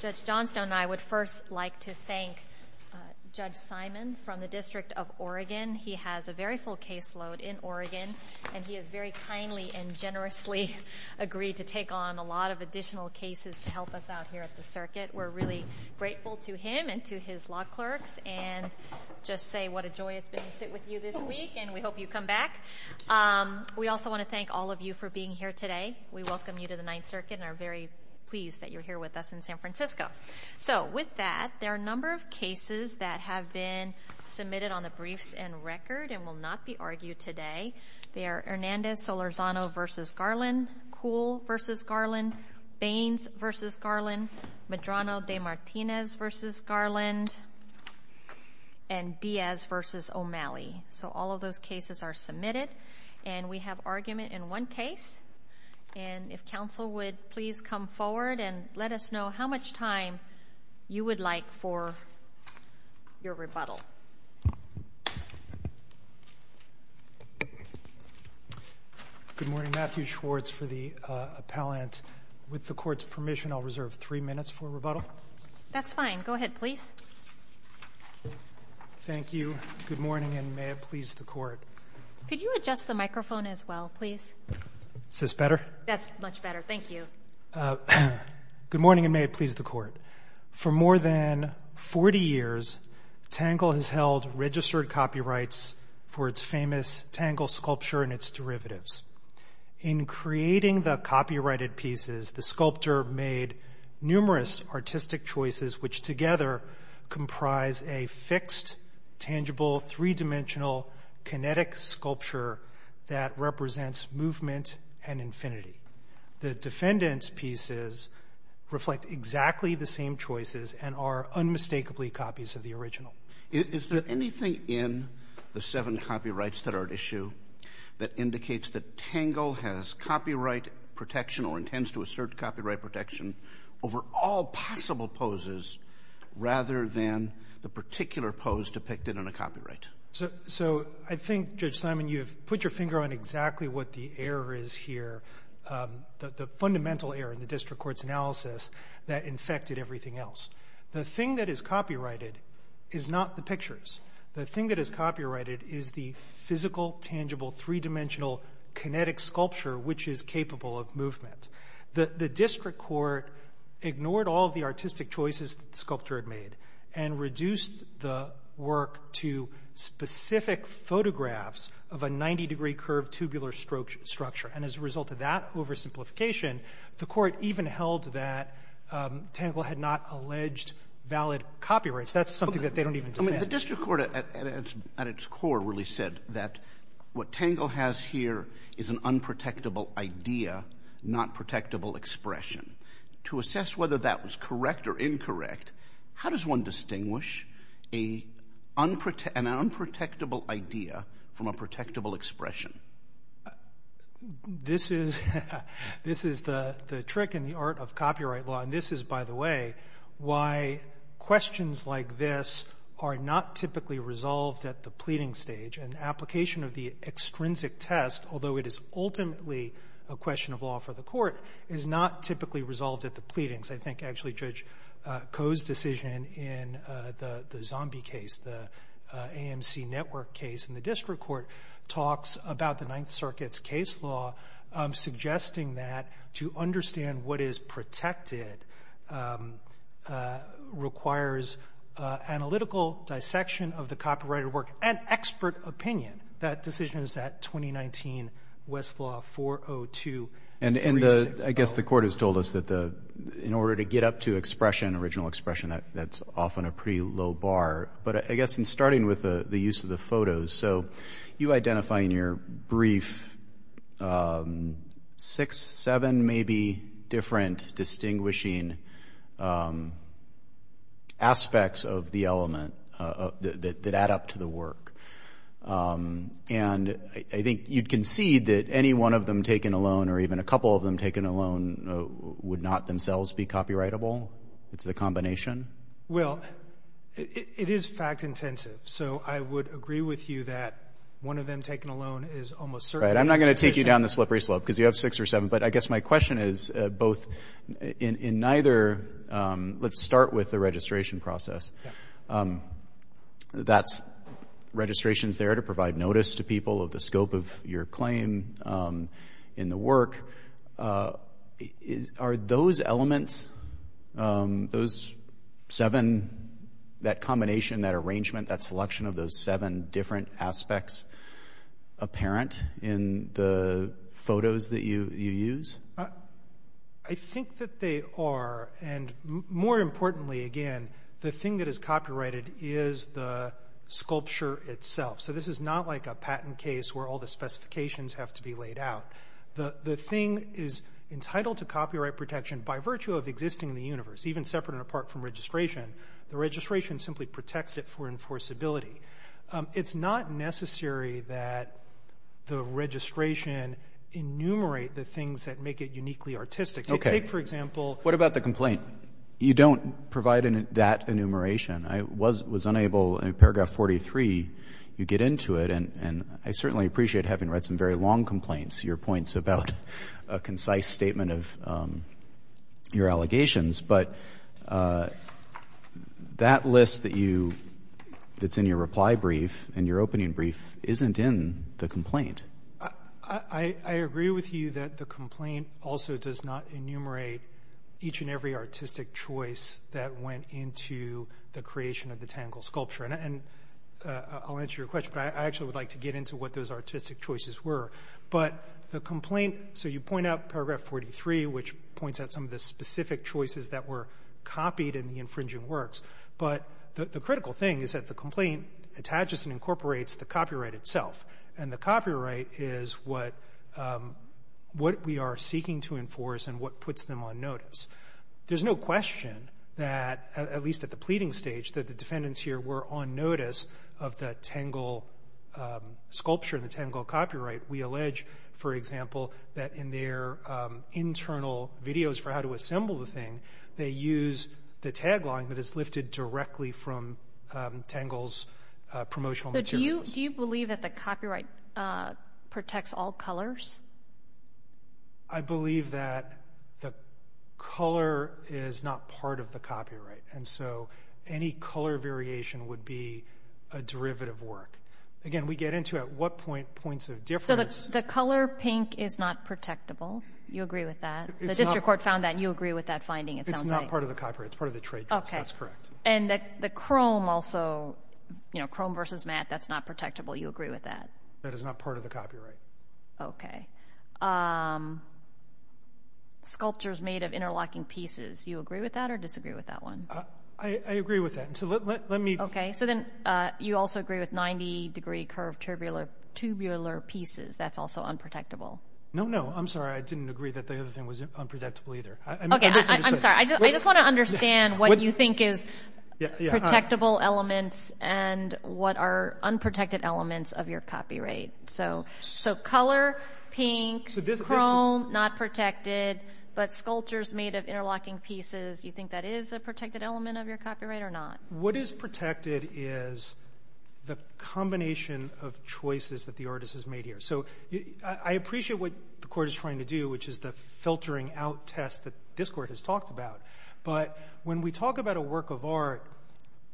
Judge Johnstone and I would first like to thank Judge Simon from the District of Oregon. He has a very full caseload in Oregon and he has very kindly and generously agreed to take on a lot of additional cases to help us out here at the circuit. We're really grateful to him and to his law clerks and just say what a joy it's been to sit with you this week and we hope you come back. We also want to thank all of you for being here today. We welcome you to the Ninth Circuit and are very pleased that you're here with us in San Francisco. So with that, there are a number of cases that have been submitted on the briefs and record and will not be argued today. They are Hernandez-Solorzano v. Garland, Kuhl v. Garland, Baines v. Garland, Medrano de Martinez v. Garland, and Diaz v. O'Malley. So all of those cases are submitted and we have argument in one case. And if counsel would please come forward and let us know how much time you would like for your rebuttal. Good morning, Matthew Schwartz for the appellant. With the court's permission, I'll reserve three minutes for rebuttal. That's fine. Go ahead, please. Thank you. Good morning and may it please the court. Could you adjust the microphone as well, please? Is this better? That's much better. Thank you. Good morning and may it please the court. For more than 40 years, Tangle has held registered copyrights for its famous Tangle sculpture and its derivatives. In creating the copyrighted pieces, the sculptor made numerous artistic choices, which together comprise a fixed, tangible, three-dimensional, kinetic sculpture that represents movement and infinity. The defendant's pieces reflect exactly the same choices and are unmistakably copies of the original. Is there anything in the seven copyrights that are at issue that indicates that Tangle has copyright protection or plans to assert copyright protection over all possible poses rather than the particular pose depicted in a copyright? So, I think, Judge Simon, you've put your finger on exactly what the error is here, the fundamental error in the district court's analysis that infected everything else. The thing that is copyrighted is not the pictures. The thing that is copyrighted is the physical, tangible, three-dimensional, kinetic sculpture which is capable of movement. The district court ignored all of the artistic choices the sculptor had made and reduced the work to specific photographs of a 90 degree curved tubular structure. And as a result of that oversimplification, the court even held that Tangle had not alleged valid copyrights. That's something that they don't even demand. The district court, at its core, really said that what Tangle has here is an unprotectable idea, not protectable expression. To assess whether that was correct or incorrect, how does one distinguish an unprotectable idea from a protectable expression? This is the trick in the art of copyright law, and this is, by the way, why questions like this are not typically resolved at the pleading stage. An application of the extrinsic test, although it is ultimately a question of law for the court, is not typically resolved at the pleadings. I think actually Judge Koh's decision in the zombie case, the AMC network case in the district court talks about the Ninth Circuit's case law, suggesting that to understand what is protected requires analytical dissection of the copyrighted work and expert opinion. That decision is at 2019 Westlaw 402-3600. And I guess the court has told us that in order to get up to expression, original expression, that's often a pretty low bar. But I guess in starting with the use of the photos, so you identify in your brief six, seven maybe different distinguishing aspects of the element that add up to the work. And I think you can see that any one of them taken alone, or even a couple of them taken alone, would not themselves be copyrightable, it's a combination. Well, it is fact intensive. So I would agree with you that one of them taken alone is almost certainly- Right, I'm not going to take you down the slippery slope, because you have six or seven, but I guess my question is both in neither, let's start with the registration process. That's registrations there to provide notice to people of the scope of your claim in the work, are those elements, those seven, that combination, that arrangement, that selection of those seven different aspects apparent in the photos that you use? I think that they are, and more importantly again, the thing that is copyrighted is the sculpture itself. So this is not like a patent case where all the specifications have to be laid out. The thing is entitled to copyright protection by virtue of existing in the universe, even separate and apart from registration. The registration simply protects it for enforceability. It's not necessary that the registration enumerate the things that make it uniquely artistic. Take for example- What about the complaint? You don't provide that enumeration. I was unable, in paragraph 43, you get into it, and I certainly appreciate having read some very long complaints, your points about a concise statement of your allegations, but that list that's in your reply brief and your opening brief isn't in the complaint. I agree with you that the complaint also does not enumerate each and every artistic choice that went into the creation of the Tangle sculpture, and I'll answer your question, but I actually would like to get into what those artistic choices were. But the complaint, so you point out paragraph 43, which points out some of the specific choices that were copied in the infringing works, but the critical thing is that the complaint attaches and incorporates the copyright itself, and the copyright is what we are seeking to enforce and what puts them on notice. There's no question that, at least at the pleading stage, that the defendants here were on notice of the Tangle sculpture and the Tangle copyright. We allege, for example, that in their internal videos for how to assemble the thing, they use the tagline that is lifted directly from Tangle's promotional materials. Do you believe that the copyright protects all colors? I believe that the color is not part of the copyright, and so any color variation would be a derivative work. Again, we get into at what point points of difference. The color pink is not protectable. You agree with that? The district court found that. You agree with that finding, it sounds like. It's not part of the copyright. It's part of the trade. Okay. That's correct. And the chrome also, chrome versus matte, that's not protectable. You agree with that? That is not part of the copyright. Okay. Sculptures made of interlocking pieces. You agree with that or disagree with that one? I agree with that. So let me... So then you also agree with 90-degree curved tubular pieces. That's also unprotectable. No, no. I'm sorry. I didn't agree that the other thing was unprotectable either. Okay, I'm sorry. I just want to understand what you think is protectable elements and what are unprotected elements of your copyright. So color, pink, chrome, not protected, but sculptures made of interlocking pieces. You think that is a protected element of your copyright or not? What is protected is the combination of choices that the artist has made here. So I appreciate what the court is trying to do, which is the filtering out test that this court has talked about. But when we talk about a work of art,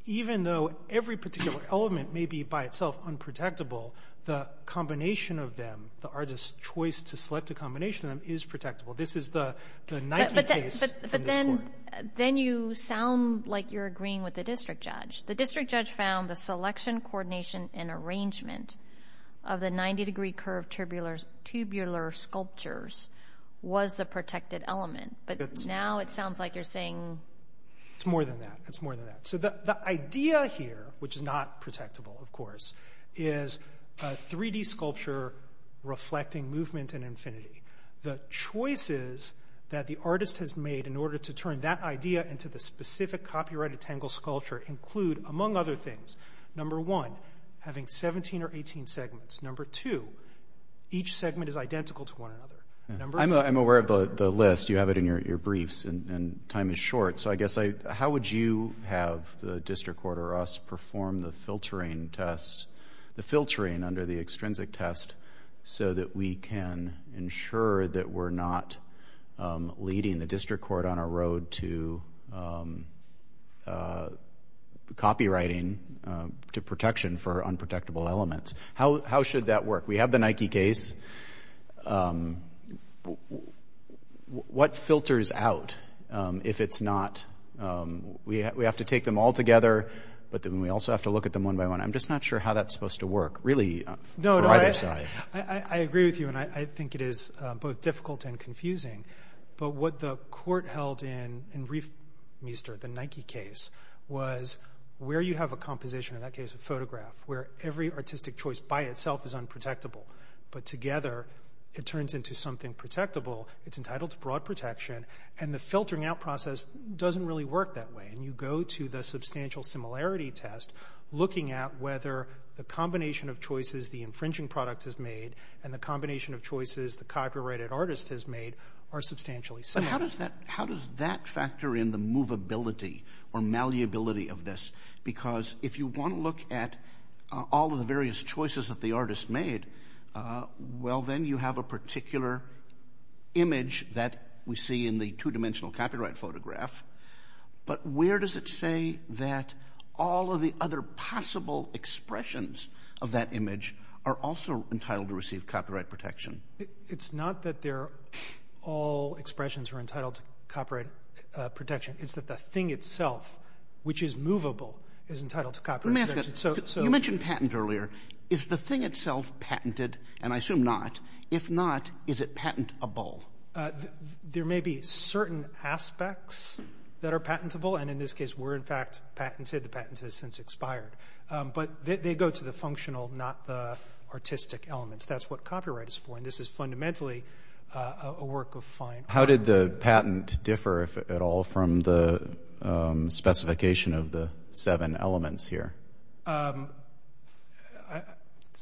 even though every particular element may be by itself unprotectable, the combination of them, the artist's choice to select a combination of them is protectable. This is the Nike case from this court. Then you sound like you're agreeing with the district judge. The district judge found the selection, coordination, and arrangement of the 90-degree curved tubular sculptures was the protected element. But now it sounds like you're saying... It's more than that. It's more than that. So the idea here, which is not protectable, of course, is a 3D sculpture reflecting movement and infinity. The choices that the artist has made in order to turn that idea into the specific copyrighted Tangle sculpture include, among other things, number one, having 17 or 18 segments. Number two, each segment is identical to one another. I'm aware of the list. You have it in your briefs, and time is short. So I guess, how would you have the district court or us perform the filtering test, the filtering under the extrinsic test, so that we can ensure that we're not leading the district court on a road to copywriting, to protection for unprotectable elements? How should that work? We have the Nike case. What filters out if it's not... We have to take them all together, but then we also have to look at them one by one. I'm just not sure how that's supposed to work, really, for either side. I agree with you, and I think it is both difficult and confusing. But what the court held in Riefmeester, the Nike case, was where you have a composition, in that case a photograph, where every artistic choice by itself is unprotectable, but together it turns into something protectable. It's entitled to broad protection, and the filtering out process doesn't really work that way. And you go to the substantial similarity test, looking at whether the combination of choices the infringing product has made and the combination of choices the copyrighted artist has made are substantially similar. How does that factor in the movability or malleability of this? Because if you want to look at all of the various choices that the artist made, well, then you have a particular image that we see in the two-dimensional copyright photograph. But where does it say that all of the other possible expressions of that image are also entitled to receive copyright protection? It's not that all expressions are entitled to copyright protection. It's that the thing itself, which is movable, is entitled to copyright protection. So you mentioned patent earlier. Is the thing itself patented? And I assume not. If not, is it patentable? There may be certain aspects that are patentable, and in this case were, in fact, patented. The patent has since expired. But they go to the functional, not the artistic elements. That's what copyright is for, and this is fundamentally a work of fine art. How did the patent differ at all from the specification of the seven elements here?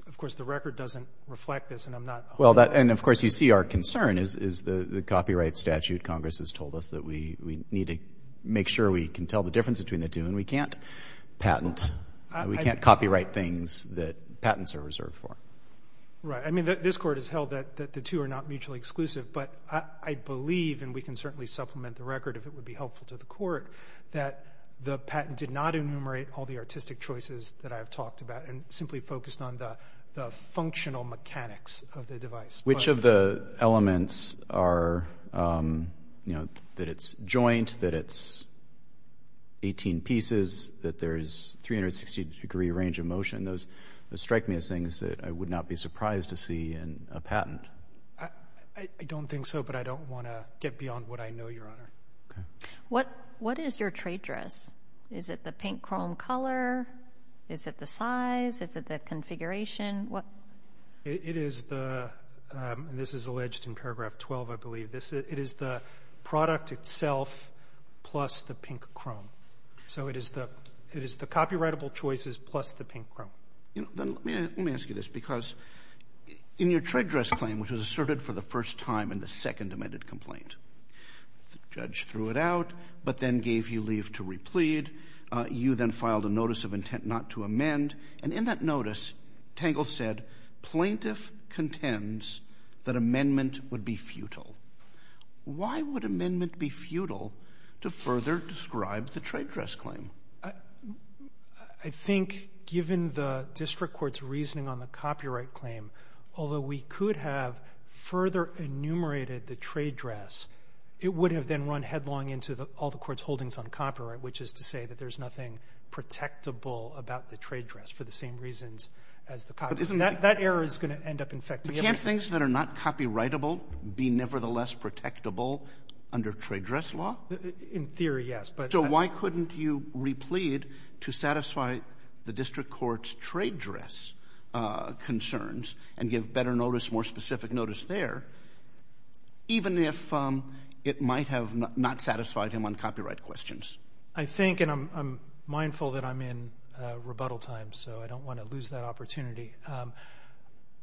Of course, the record doesn't reflect this, and I'm not... Well, and of course, you see our concern is the copyright statute. Congress has told us that we need to make sure we can tell the difference between the two, and we can't patent. We can't copyright things that patents are reserved for. Right. I mean, this court has held that the two are not mutually exclusive, but I believe, and we can certainly supplement the record if it would be helpful to the court, that the patent did not enumerate all the artistic choices that I've talked about, and simply focused on the functional mechanics of the device. Which of the elements are, you know, that it's joint, that it's 18 pieces, that there's 360 degree range of motion? Those strike me as things that I would not be surprised to see in a patent. I don't think so, but I don't want to get beyond what I know, Your Honor. What is your trade dress? Is it the pink chrome color? Is it the size? Is it the configuration? It is the, and this is alleged in paragraph 12, I believe, it is the product itself plus the pink chrome. So it is the copyrightable choices plus the pink chrome. You know, let me ask you this, because in your trade dress claim, which was asserted for the first time in the second amended complaint, the judge threw it out, but then gave you leave to replead. You then filed a notice of intent not to amend, and in that notice, Tangle said plaintiff contends that amendment would be futile. Why would amendment be futile to further describe the trade dress claim? I think given the district court's reasoning on the copyright claim, although we could have further enumerated the trade dress, it would have then run headlong into all the court's holdings on copyright, which is to say that there's nothing protectable about the trade dress for the same reasons as the copyright. That error is going to end up in fact. But can't things that are not copyrightable be nevertheless protectable under trade dress law? In theory, yes. So why couldn't you replead to satisfy the district court's trade dress concerns and give better notice, more specific notice there, even if it might have not satisfied him on copyright questions? I think, and I'm mindful that I'm in rebuttal time, so I don't want to lose that opportunity.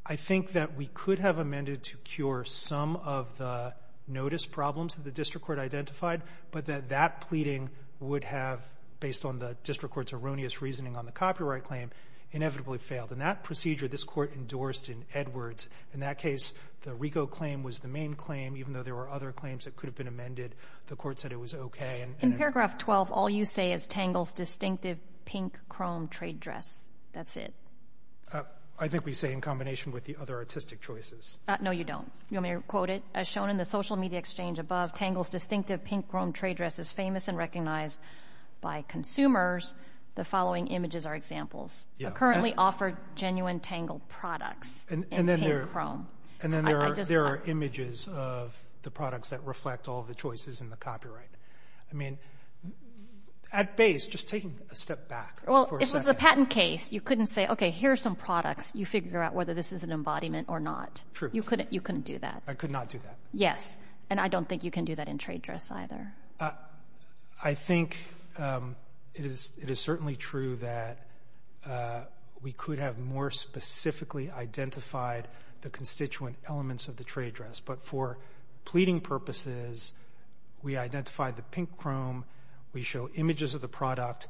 I think that we could have amended to cure some of the notice problems that the district court identified, but that that pleading would have, based on the district court's erroneous reasoning on the copyright claim, inevitably failed. And that procedure, this court endorsed in Edwards. In that case, the RICO claim was the main claim, even though there were other claims that could have been amended. The court said it was okay. In paragraph 12, all you say is Tangle's distinctive pink chrome trade dress. That's it. I think we say in combination with the other artistic choices. No, you don't. You want me to quote it? As shown in the social media exchange above, Tangle's distinctive pink chrome trade dress is famous and recognized by consumers. The following images are examples. They currently offer genuine Tangle products in pink chrome. And then there are images of the products that reflect all the choices in the copyright. I mean, at base, just taking a step back for a second. Well, if it was a patent case, you couldn't say, okay, here are some products. You figure out whether this is an embodiment or not. True. You couldn't do that. I could not do that. Yes. And I don't think you can do that in trade dress either. I think it is certainly true that we could have more specifically identified the constituent elements of the trade dress. But for pleading purposes, we identified the pink chrome. We show images of the product.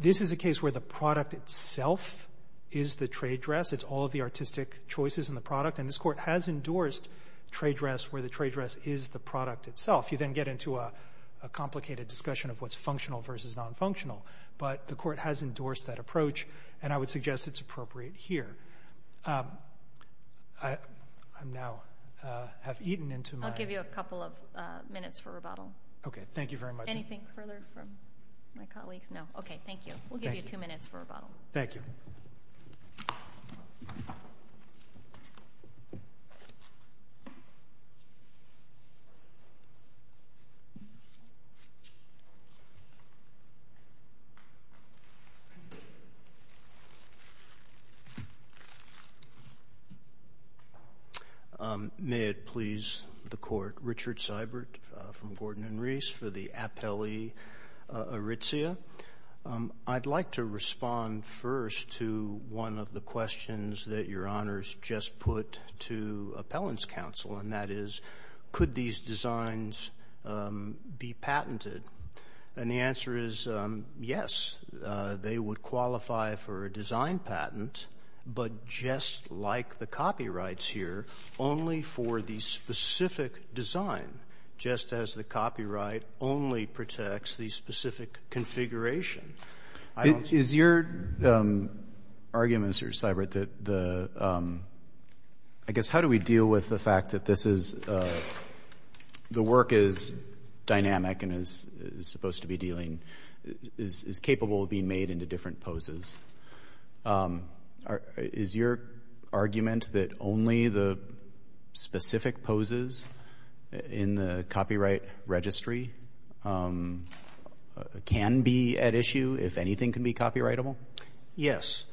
This is a case where the product itself is the trade dress. It's all of the artistic choices in the product. And this court has endorsed trade dress where the trade dress is the product itself. You then get into a complicated discussion of what's functional versus non-functional. But the court has endorsed that approach. And I would suggest it's appropriate here. I now have eaten into my... I'll give you a couple of minutes for rebuttal. Okay. Thank you very much. Anything further from my colleagues? No. Okay. Thank you. We'll give you two minutes for rebuttal. Thank you. May it please the court. Richard Seibert from Gordon and Reese for the Apelli Aritzia. I'd like to respond first to one of the questions that your honors just put to appellant's counsel. And that is, could these designs be patented? And the answer is, yes. They would qualify for a design patent. But just like the copyrights here, only for the specific design. Just as the copyright only protects the specific configuration. Is your argument, Mr. Seibert, that the... I guess, how do we deal with the fact that this is... The work is dynamic and is supposed to be dealing... Is capable of being made into different poses. Is your argument that only the specific poses in the copyright registry can be at issue, if anything can be copyrightable? Yes.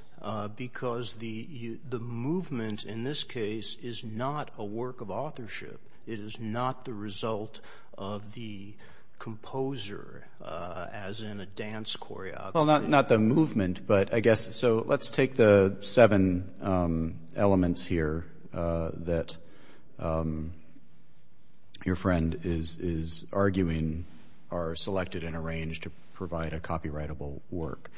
Because the movement in this case is not a work of authorship. It is not the result of the composer as in a dance choreography. Well, not the movement, but I guess... So let's take the seven elements here that your friend is arguing are selected and arranged to provide a copyrightable work.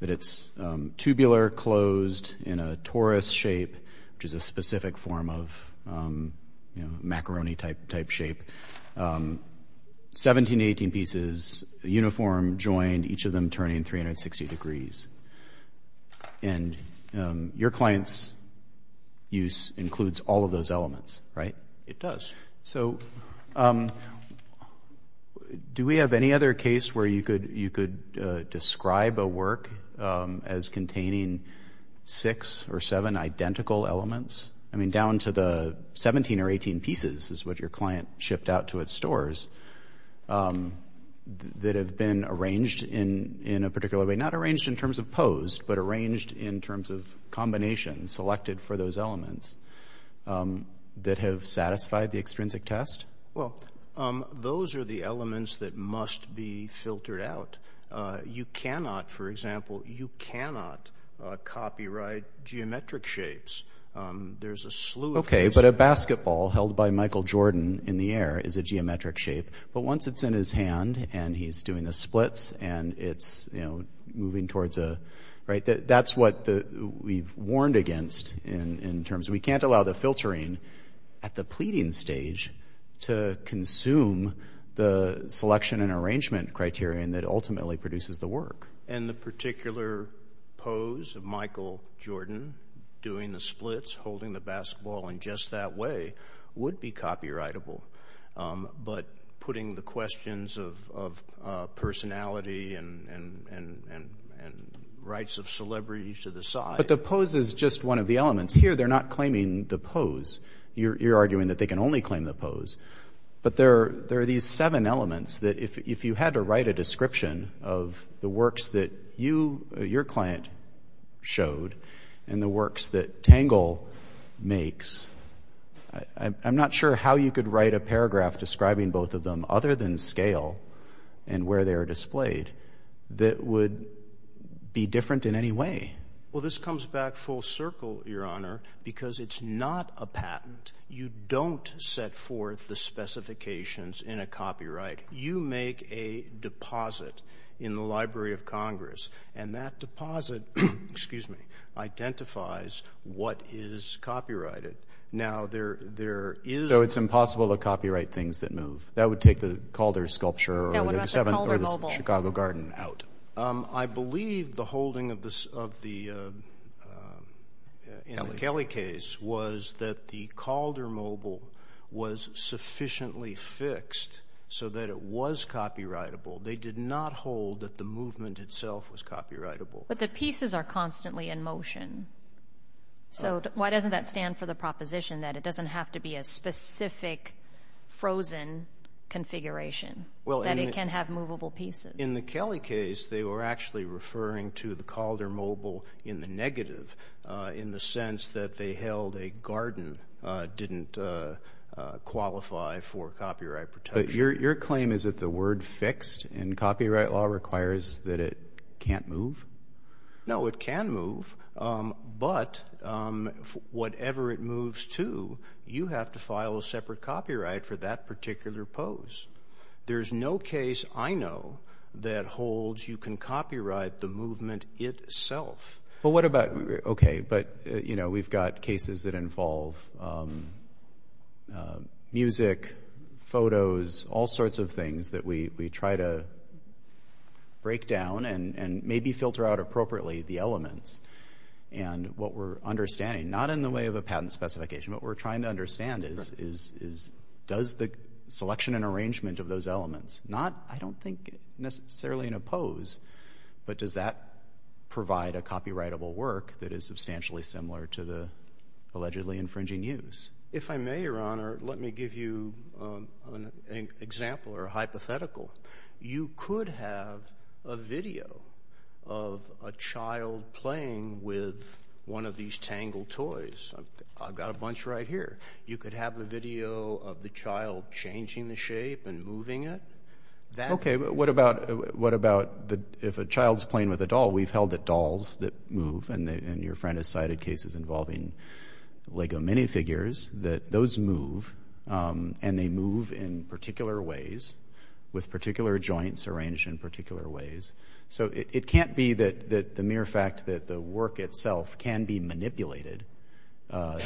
That it's tubular, closed in a torus shape, which is a specific form of macaroni type shape. 17 to 18 pieces, uniform joined, each of them turning 360 degrees. And your client's use includes all of those elements, right? It does. So do we have any other case where you could describe a work as containing six or seven identical elements? I mean, down to the 17 or 18 pieces is what your client shipped out to its stores. That have been arranged in a particular way. Not arranged in terms of pose, but arranged in terms of combination selected for those elements. That have satisfied the extrinsic test? Well, those are the elements that must be filtered out. You cannot, for example, you cannot copyright geometric shapes. There's a slew of... Okay, but a basketball held by Michael Jordan in the air is a geometric shape. But once it's in his hand and he's doing the splits and it's, you know, moving towards a... Right, that's what we've warned against in terms... We can't allow the filtering at the pleading stage to consume the selection and arrangement criterion that ultimately produces the work. And the particular pose of Michael Jordan doing the splits, holding the basketball in just that way would be copyrightable. But putting the questions of personality and rights of celebrities to the side... But the pose is just one of the elements. Here, they're not claiming the pose. You're arguing that they can only claim the pose. But there are these seven elements that if you had to write a description of the works that you, your client showed, and the works that Tangle makes, I'm not sure how you could write a paragraph describing both of them other than scale and where they are displayed that would be different in any way. Well, this comes back full circle, Your Honor, because it's not a patent. You don't set forth the specifications in a copyright. You make a deposit in the Library of Congress and that deposit identifies what is copyrighted. Now, there is... So it's impossible to copyright things that move. That would take the Calder sculpture or the Chicago Garden out. I believe the holding of the Kelly case was that the Calder mobile was sufficiently fixed so that it was copyrightable. They did not hold that the movement itself was copyrightable. But the pieces are constantly in motion. So why doesn't that stand for the proposition that it doesn't have to be a specific frozen configuration, that it can have movable pieces? In the Kelly case, they were actually referring to the Calder mobile in the negative, in the sense that they held a garden didn't qualify for copyright protection. But your claim is that the word fixed in copyright law requires that it can't move? No, it can move, but whatever it moves to, you have to file a separate copyright for that particular pose. There's no case I know that holds you can copyright the movement itself. But what about... Okay, but we've got cases that involve music, photos, all sorts of things that we try to break down and maybe filter out appropriately the elements. And what we're understanding, not in the way of a patent specification, what we're trying to understand is does the selection and arrangement of those elements, I don't think necessarily in a pose, but does that provide a copyrightable work that is substantially similar to the allegedly infringing use? If I may, Your Honor, let me give you an example or a hypothetical. You could have a video of a child playing with one of these tangled toys. I've got a bunch right here. You could have a video of the child changing the shape and moving it. Okay, but what about if a child's playing with a doll? We've held that dolls that move, and your friend has cited cases involving Lego minifigures, that those move, and they move in particular ways with particular joints arranged in particular ways. So it can't be that the mere fact that the work itself can be manipulated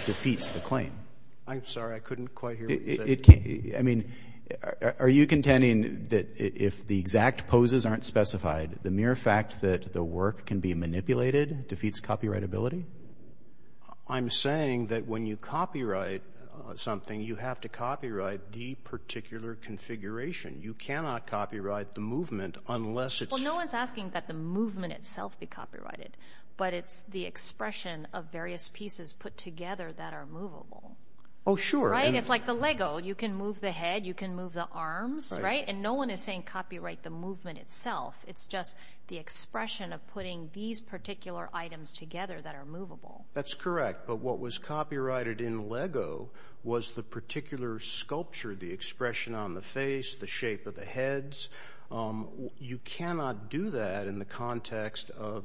defeats the claim. I'm sorry, I couldn't quite hear what you said. I mean, are you contending that if the exact poses aren't specified, the mere fact that the work can be manipulated defeats copyrightability? I'm saying that when you copyright something, you have to copyright the particular configuration. You cannot copyright the movement unless it's... Well, no one's asking that the movement itself be copyrighted, but it's the expression of various pieces put together that are movable. Oh, sure. Right? It's like the Lego. You can move the head. You can move the arms, right? And no one is saying copyright the movement itself. It's just the expression of putting these particular items together that are movable. That's correct, but what was copyrighted in Lego was the particular sculpture, the expression on the face, the shape of the heads. You cannot do that in the context of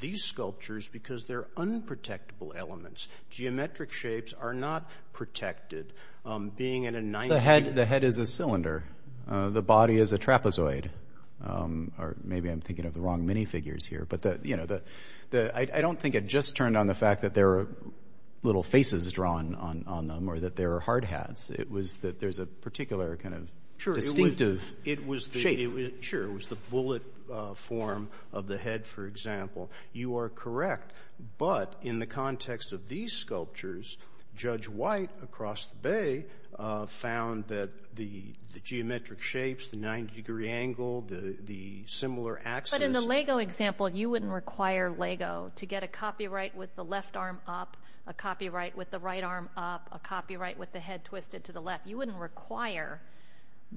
these sculptures because they're unprotectable elements. Geometric shapes are not protected. The head is a cylinder. The body is a trapezoid. Or maybe I'm thinking of the wrong minifigures here. But I don't think it just turned on the fact that there are little faces drawn on them or that there are hard hats. It was that there's a particular kind of distinctive shape. Sure. It was the bullet form of the head, for example. You are correct, but in the context of these sculptures, Judge White across the bay found that the geometric shapes, the 90-degree angle, the similar axis- But in the Lego example, you wouldn't require Lego to get a copyright with the left arm up, a copyright with the right arm up, a copyright with the head twisted to the left. You wouldn't require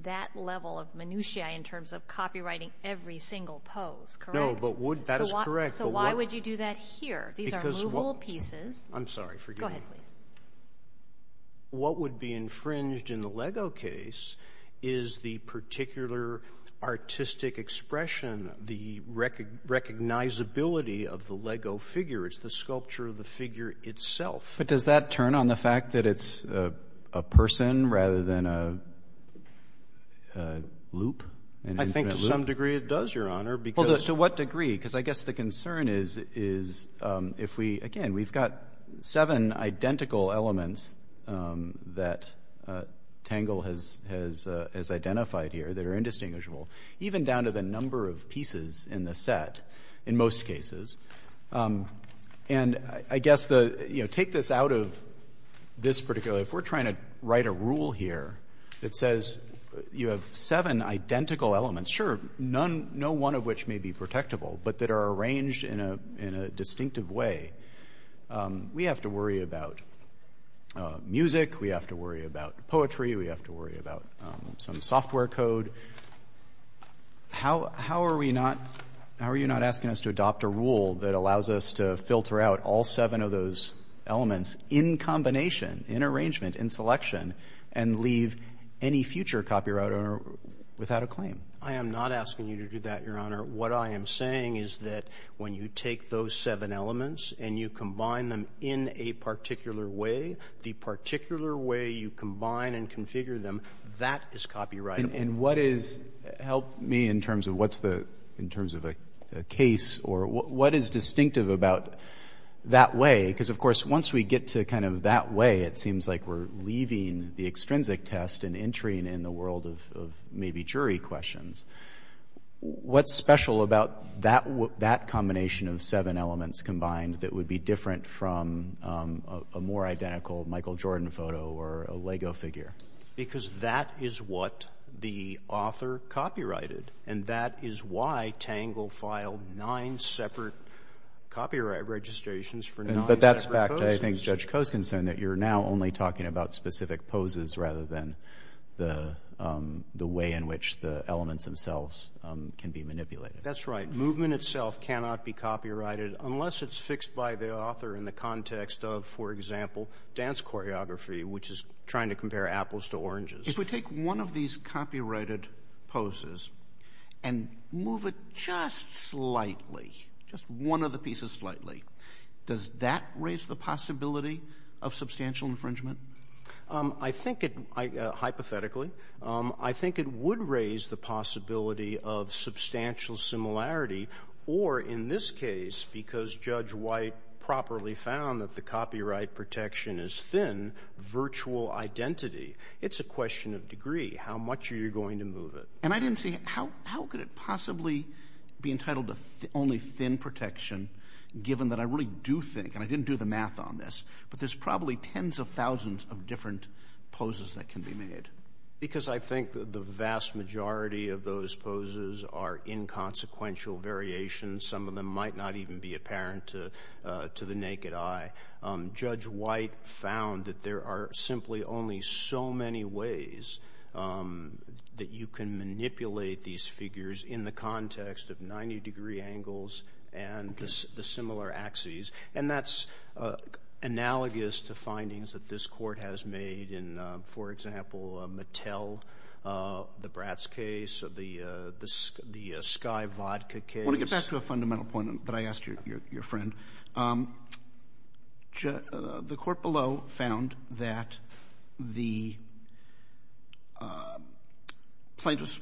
that level of minutiae in terms of copywriting every single pose, correct? No, but would- That is correct. So why would you do that here? These are movable pieces. I'm sorry, forgive me. Go ahead, please. What would be infringed in the Lego case is the particular artistic expression, the recognizability of the Lego figure. It's the sculpture of the figure itself. But does that turn on the fact that it's a person rather than a loop? I think to some degree it does, Your Honor, because- Well, to what degree? Because I guess the concern is if we- Again, we've got seven identical elements that Tangle has identified here that are indistinguishable, even down to the number of pieces in the set in most cases. And I guess the- Take this out of this particular- If we're trying to write a rule here that says you have seven identical elements, sure, no one of which may be protectable, but that are arranged in a distinctive way, we have to worry about music, we have to worry about poetry, we have to worry about some software code. How are we not- How are you not asking us to adopt a rule that allows us to filter out all seven of those elements in combination, in arrangement, in selection, and leave any future copyright owner without a claim? I am not asking you to do that, Your Honor. What I am saying is that when you take those seven elements and you combine them in a particular way, the particular way you combine and configure them, that is copyrightable. And what is- Help me in terms of what's the- In terms of a case or what is distinctive about that way? Because of course, once we get to kind of that way, it seems like we're leaving the extrinsic test and entering in the world of maybe jury questions. What's special about that combination of seven elements combined that would be different from a more identical Michael Jordan photo or a Lego figure? Because that is what the author copyrighted. And that is why Tangle filed nine separate copyright registrations for nine separate poses. But that's fact. I think Judge Coe's concerned that you're now only talking about specific poses rather than the way in which the elements themselves can be manipulated. That's right. Movement itself cannot be copyrighted unless it's fixed by the author in the context of, for example, dance choreography, which is trying to compare apples to oranges. If we take one of these copyrighted poses and move it just slightly, just one of the pieces slightly, does that raise the possibility of substantial infringement? I think it, hypothetically, I think it would raise the possibility of substantial similarity or in this case, because Judge White properly found that the copyright protection is thin, virtual identity. It's a question of degree. How much are you going to move it? And I didn't see, how could it possibly be entitled to only thin protection given that I really do think, and I didn't do the math on this, but there's probably tens of thousands of different poses that can be made? Because I think the vast majority of those poses are inconsequential variations. Some of them might not even be apparent to the naked eye. Judge White found that there are simply only so many ways that you can manipulate these figures in the context of 90-degree angles and the similar axes, and that's analogous to findings that this court has made in, for example, Mattel, the Bratz case, the Sky Vodka case. I want to get back to a fundamental point that I asked your friend. The court below found that the plaintiff's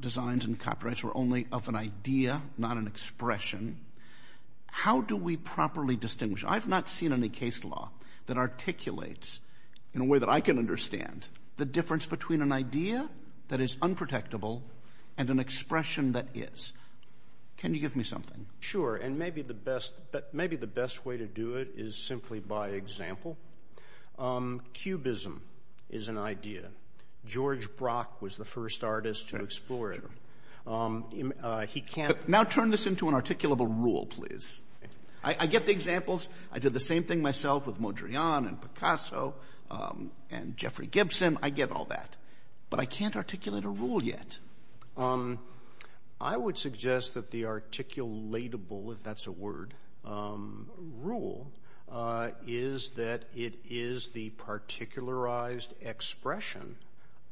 designs and copyrights were only of an idea, not an expression. How do we properly distinguish? I've not seen any case law that articulates, in a way that I can understand, the difference between an idea that is unprotectable and an expression that is. Can you give me something? Sure, and maybe the best way to do it is simply by example. Cubism is an idea. George Brock was the first artist to explore it. He can't- Now turn this into an articulable rule, please. I get the examples. I did the same thing myself with Modrian and Picasso and Jeffrey Gibson. I get all that, but I can't articulate a rule yet. I would suggest that the articulatable, if that's a word, rule is that it is the particularized expression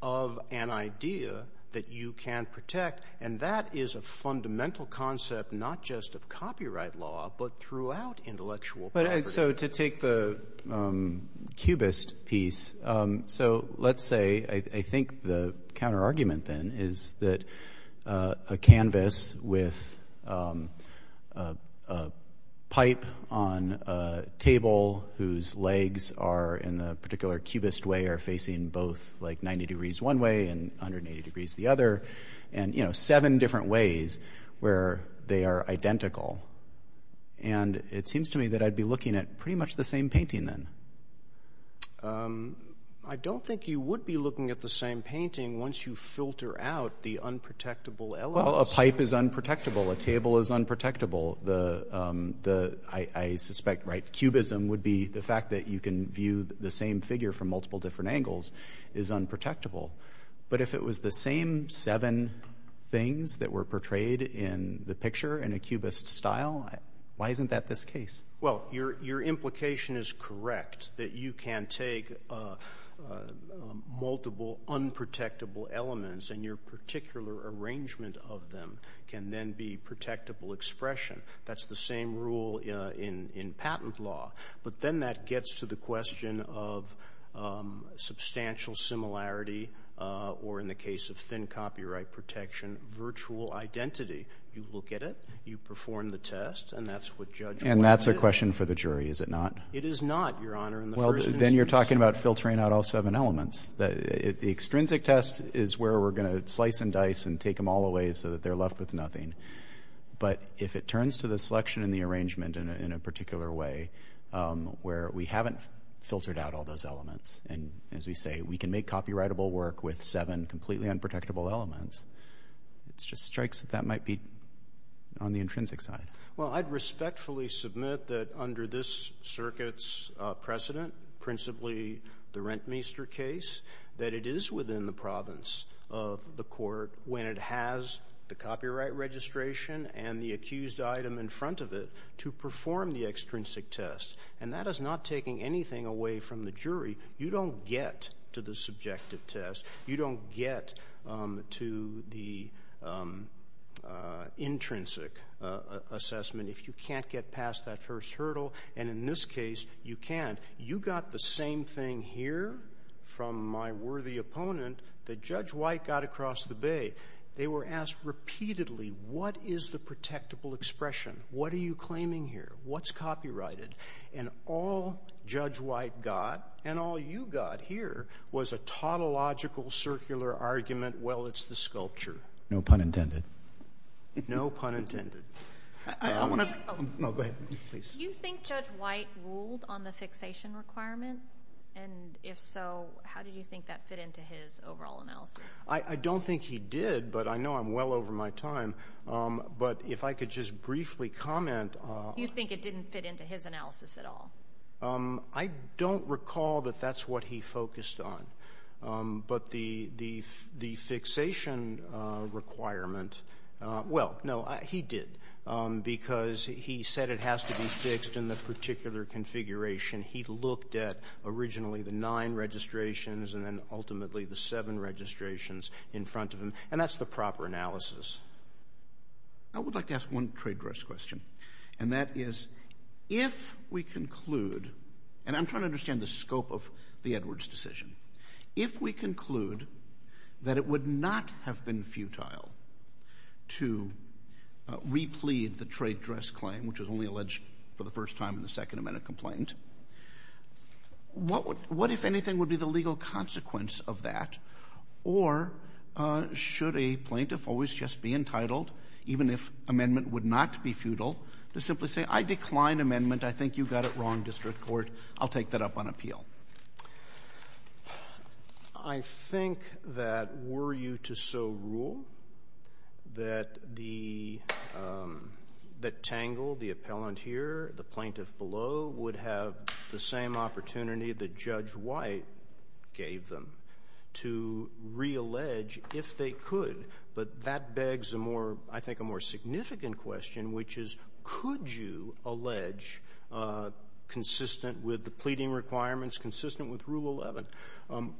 of an idea that you can protect, and that is a fundamental concept, not just of copyright law, but throughout intellectual property. So to take the cubist piece, so let's say, I think the counterargument then is that a canvas with a pipe on a table whose legs are, in a particular cubist way, are facing both like 90 degrees one way and 180 degrees the other. Seven different ways where they are identical. And it seems to me that I'd be looking at pretty much the same painting then. I don't think you would be looking at the same painting once you filter out the unprotectable elements. Well, a pipe is unprotectable. A table is unprotectable. I suspect, right, cubism would be the fact that you can view the same figure from multiple different angles is unprotectable. But if it was the same seven things that were portrayed in the picture in a cubist style, why isn't that this case? Well, your implication is correct that you can take multiple unprotectable elements and your particular arrangement of them can then be protectable expression. That's the same rule in patent law. But then that gets to the question of substantial similarity or, in the case of thin copyright protection, virtual identity. You look at it. You perform the test. And that's what judge. And that's a question for the jury, is it not? It is not, your honor. Well, then you're talking about filtering out all seven elements. The extrinsic test is where we're going to slice and dice and take them all away so that they're left with nothing. But if it turns to the selection and the arrangement in a particular way, where we haven't filtered out all those elements and, as we say, we can make copyrightable work with seven completely unprotectable elements, it just strikes that that might be on the intrinsic side. Well, I'd respectfully submit that under this circuit's precedent, principally the Rentmeester case, that it is within the province of the court when it has the copyright registration and the accused item in front of it to perform the extrinsic test. And that is not taking anything away from the jury. You don't get to the subjective test. You don't get to the intrinsic assessment if you can't get past that first hurdle. And in this case, you can. You got the same thing here from my worthy opponent that Judge White got across the bay. They were asked repeatedly, what is the protectable expression? What are you claiming here? What's copyrighted? And all Judge White got, and all you got here, was a tautological circular argument, well, it's the sculpture. No pun intended. No pun intended. I want to. No, go ahead, please. Do you think Judge White ruled on the fixation requirement? And if so, how do you think that fit into his overall analysis? I don't think he did, but I know I'm well over my time. But if I could just briefly comment. You think it didn't fit into his analysis at all? I don't recall that that's what he focused on. But the fixation requirement, well, no, he did, because he said it has to be fixed in the particular configuration. He looked at originally the nine registrations and then ultimately the seven registrations in front of him. And that's the proper analysis. I would like to ask one trade dress question, and that is if we conclude, and I'm trying to understand the scope of the Edwards decision, if we conclude that it would not have been futile to replead the trade dress claim, which was only alleged for the first time in the Second Amendment complaint. What would what, if anything, would be the legal consequence of that? Or should a plaintiff always just be entitled, even if amendment would not be futile, to simply say, I decline amendment. I think you got it wrong, District Court. I'll take that up on appeal. I think that were you to so rule that the that tangled the appellant here, the plaintiff below would have the same opportunity that Judge White gave them to reallege if they could. But that begs a more, I think, a more significant question, which is, could you allege consistent with the pleading requirements, consistent with Rule 11?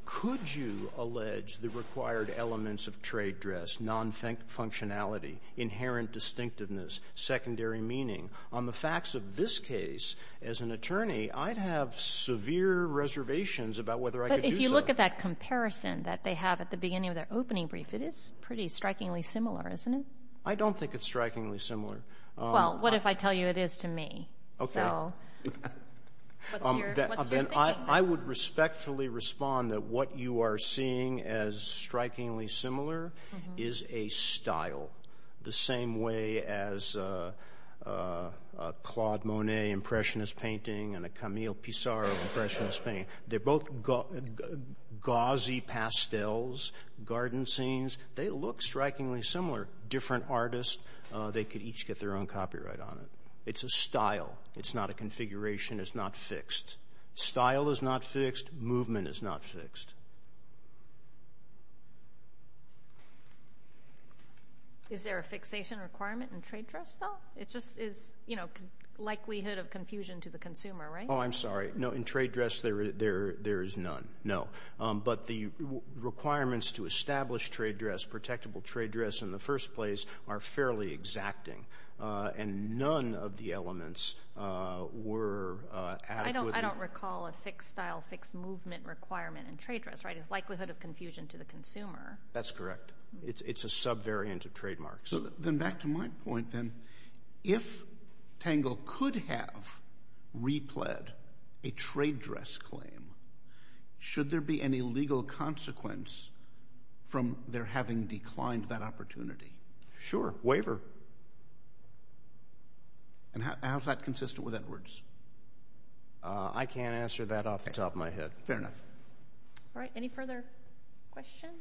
Could you allege the required elements of trade dress, non-functionality, inherent distinctiveness, secondary meaning? On the facts of this case, as an attorney, I'd have severe reservations about whether I could do so. But if you look at that comparison that they have at the beginning of their opening brief, it is pretty strikingly similar, isn't it? I don't think it's strikingly similar. Well, what if I tell you it is to me? OK. So what's your thinking? I would respectfully respond that what you are seeing as strikingly similar is a style the same way as a Claude Monet Impressionist painting and a Camille Pissarro Impressionist painting. They're both gauzy pastels, garden scenes. They look strikingly similar. Different artists, they could each get their own copyright on it. It's a style. It's not a configuration. It's not fixed. Style is not fixed. Movement is not fixed. Is there a fixation requirement in trade dress, though? It just is, you know, likelihood of confusion to the consumer, right? Oh, I'm sorry. No, in trade dress, there is none. No. But the requirements to establish trade dress, protectable trade dress in the first place, are fairly exacting. And none of the elements were adequate. I don't recall a fixed style, fixed movement requirement in trade dress, right? It's likelihood of confusion to the consumer. That's correct. It's a subvariant of trademarks. So then back to my point, then, if Tangle could have repled a trade dress claim, should there be any legal consequence from their having declined that opportunity? Sure. Waiver. And how is that consistent with Edwards? I can't answer that off the top of my head. Fair enough. All right. Any further questions?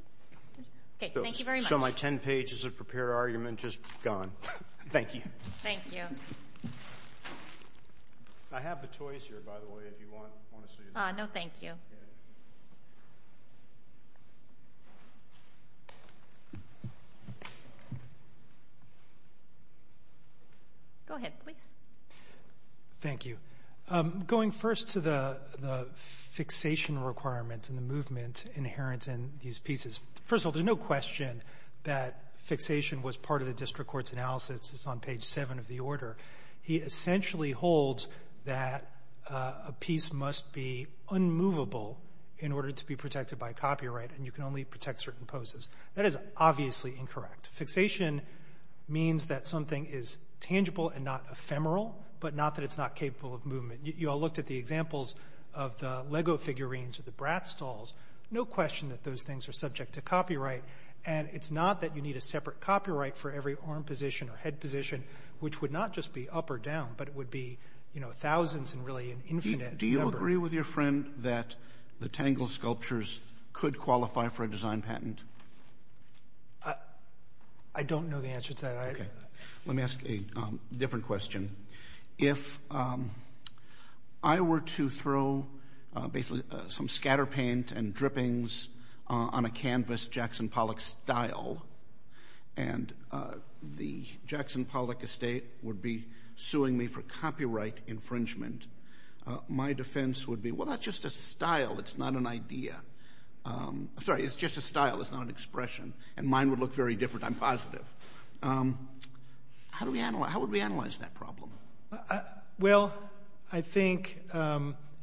OK, thank you very much. So my 10 pages of prepared argument just gone. Thank you. Thank you. I have the toys here, by the way, if you want to see them. No, thank you. Go ahead, please. Thank you. Going first to the fixation requirement and the movement inherent in these pieces. First of all, there's no question that fixation was part of the district court's analysis. It's on page seven of the order. He essentially holds that a piece must be unmovable in order to be protected by copyright. And you can only protect certain poses. That is obviously incorrect. Fixation means that something is tangible and not ephemeral, but not that it's not capable of movement. You all looked at the examples of the Lego figurines or the Bratz dolls. No question that those things are subject to copyright. And it's not that you need a separate copyright for every arm position or head position, which would not just be up or down, but it would be, you know, thousands and really an infinite. Do you agree with your friend that the Tangle sculptures could qualify for a design patent? I don't know the answer to that. OK, let me ask a different question. If I were to throw basically some scatter paint and drippings on a canvas Jackson Pollock style and the Jackson Pollock estate would be suing me for copyright infringement, my defense would be, well, that's just a style. It's not an idea. Sorry, it's just a style. It's not an expression. And mine would look very different. I'm positive. How do we analyze? How would we analyze that problem? Well, I think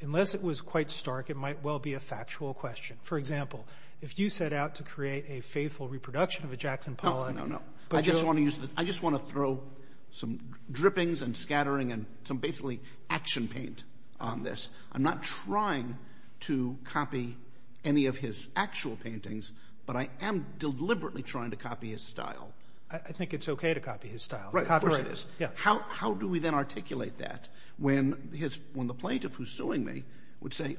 unless it was quite stark, it might well be a factual question. For example, if you set out to create a faithful reproduction of a Jackson Pollock. No, no, no. I just want to use that. I just want to throw some drippings and scattering and some basically action paint on this. I'm not trying to copy any of his actual paintings, but I am deliberately trying to copy his style. I think it's OK to copy his style. Right. How do we then articulate that when his when the plaintiff who's suing me would say,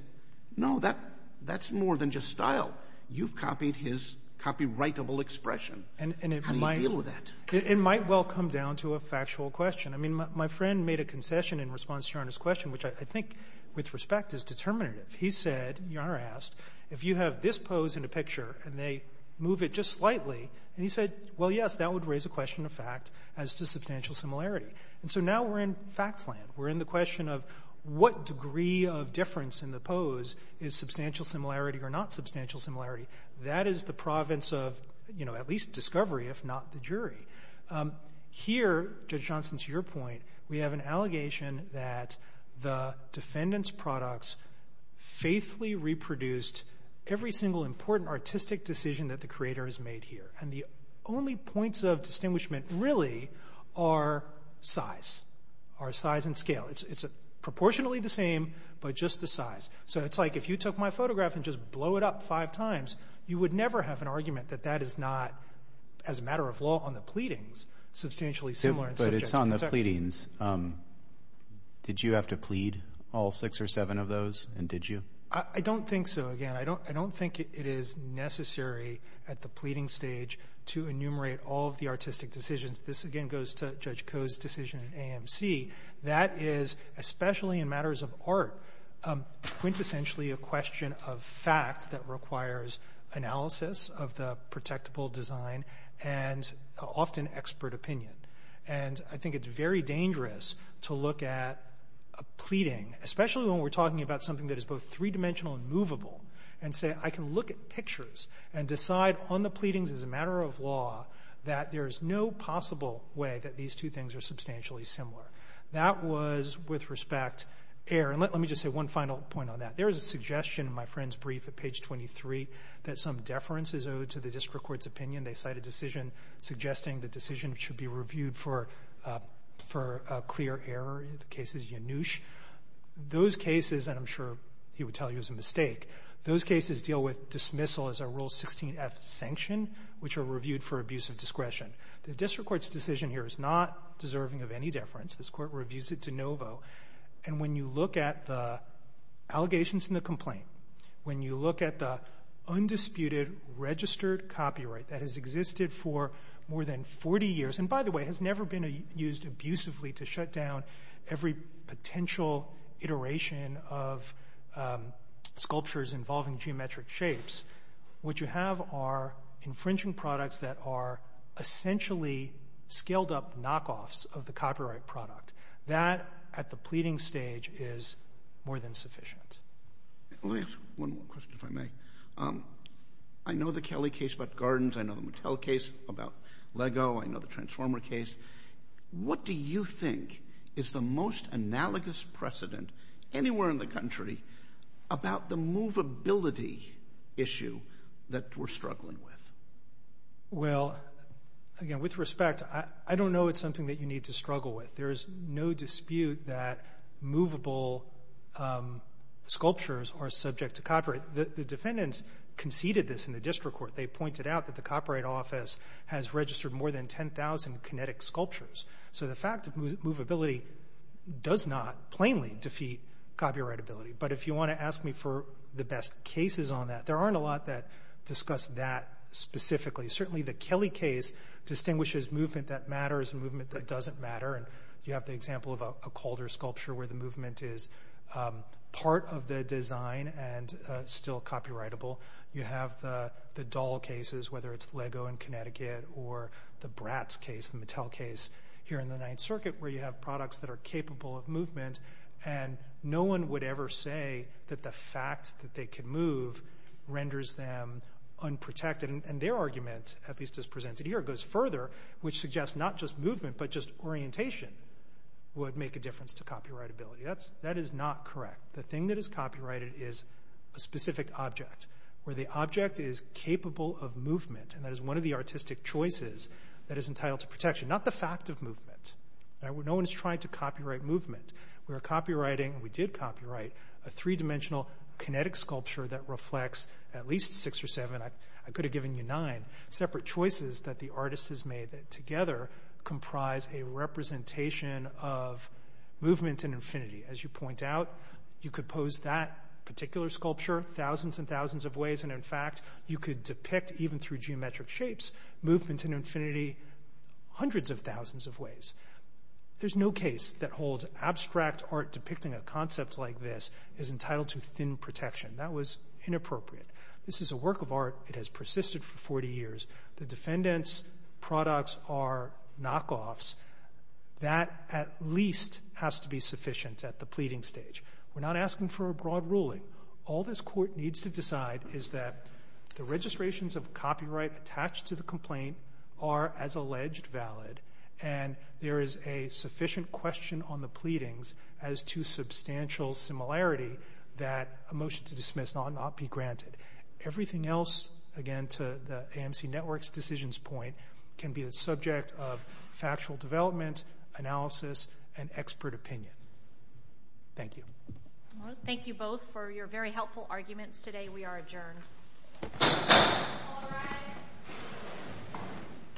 no, that that's more than just style. You've copied his copyrightable expression. And how do you deal with that? It might well come down to a factual question. I mean, my friend made a concession in response to your question, which I think with respect is determinative. He said, Your Honor asked, if you have this pose in a picture and they move it just slightly and he said, well, yes, that would raise a question of fact as to substantial similarity. And so now we're in facts land. We're in the question of what degree of difference in the pose is substantial similarity or not substantial similarity. That is the province of, you know, at least discovery, if not the jury. Here, Judge Johnson, to your point, we have an allegation that the defendant's products faithfully reproduced every single important artistic decision that the creator has made here. And the only points of distinguishment really are size, are size and scale. It's proportionally the same, but just the size. So it's like if you took my photograph and just blow it up five times, you would never have an argument that that is not as a matter of law on the pleadings substantially similar, but it's on the pleadings. Did you have to plead all six or seven of those? And did you? I don't think so. Again, I don't I don't think it is necessary at the pleading stage to enumerate all of the artistic decisions. This again goes to Judge Koh's decision in AMC. That is especially in matters of art, quintessentially a question of fact that requires analysis of the protectable design and often expert opinion. And I think it's very dangerous to look at a pleading, especially when we're talking about something that is both three dimensional and movable, and say, I can look at pictures and decide on the pleadings as a matter of law that there is no possible way that these two things are substantially similar. That was with respect. Aaron, let me just say one final point on that. There is a suggestion in my friend's brief at page 23 that some deference is owed to the district court's opinion. They cite a decision suggesting the decision should be reviewed for for a clear error in the cases. Yanush, those cases, and I'm sure he would tell you as a mistake. Those cases deal with dismissal as a rule 16 F sanction, which are reviewed for abuse of discretion. The district court's decision here is not deserving of any deference. This court reviews it de novo. And when you look at the allegations in the complaint, when you look at the undisputed registered copyright that has existed for more than 40 years and, by the way, has never been used abusively to shut down every potential iteration of sculptures involving geometric shapes, what you have are infringing products that are essentially scaled up knockoffs of the copyright product that at the pleading stage is more than sufficient. Let me ask one more question, if I may. I know the Kelly case about gardens. I know the Mattel case about Lego. I know the Transformer case. What do you think is the most analogous precedent anywhere in the country about the movability issue that we're struggling with? Well, again, with respect, I don't know. It's something that you need to struggle with. There is no dispute that movable sculptures are subject to copyright. The defendants conceded this in the district court. They pointed out that the copyright office has registered more than 10,000 kinetic sculptures. So the fact that movability does not plainly defeat copyrightability. But if you want to ask me for the best cases on that, there aren't a lot that discuss that specifically. Certainly, the Kelly case distinguishes movement that matters, movement that doesn't matter. And you have the example of a Calder sculpture where the movement is part of the design and still copyrightable. You have the doll cases, whether it's Lego in Connecticut or the Bratz case, the Mattel case here in the Ninth Circuit, where you have products that are capable of movement. And no one would ever say that the fact that they can move renders them unprotected. And their argument, at least as presented here, goes further, which suggests not just movement, but just orientation would make a difference to copyrightability. That's that is not correct. The thing that is copyrighted is a specific object where the object is capable of movement. And that is one of the artistic choices that is entitled to protection, not the fact of movement. No one is trying to copyright movement. We are copywriting and we did copyright a three-dimensional kinetic sculpture that reflects at least six or seven. I could have given you nine separate choices that the artist has made that together comprise a representation of movement and infinity. As you point out, you could pose that particular sculpture thousands and thousands of ways. And in fact, you could depict even through geometric shapes, movement and infinity hundreds of thousands of ways. There's no case that holds abstract art. Depicting a concept like this is entitled to thin protection. That was inappropriate. This is a work of art. It has persisted for 40 years. The defendants products are knockoffs that at least has to be sufficient at the pleading stage. We're not asking for a broad ruling. All this court needs to decide is that the registrations of copyright attached to the complaint are, as alleged, valid. And there is a sufficient question on the pleadings as to substantial similarity that a motion to dismiss not be granted. Everything else, again, to the AMC Network's decisions point can be the subject of factual development, analysis and expert opinion. Thank you. Thank you both for your very helpful arguments today. We are adjourned.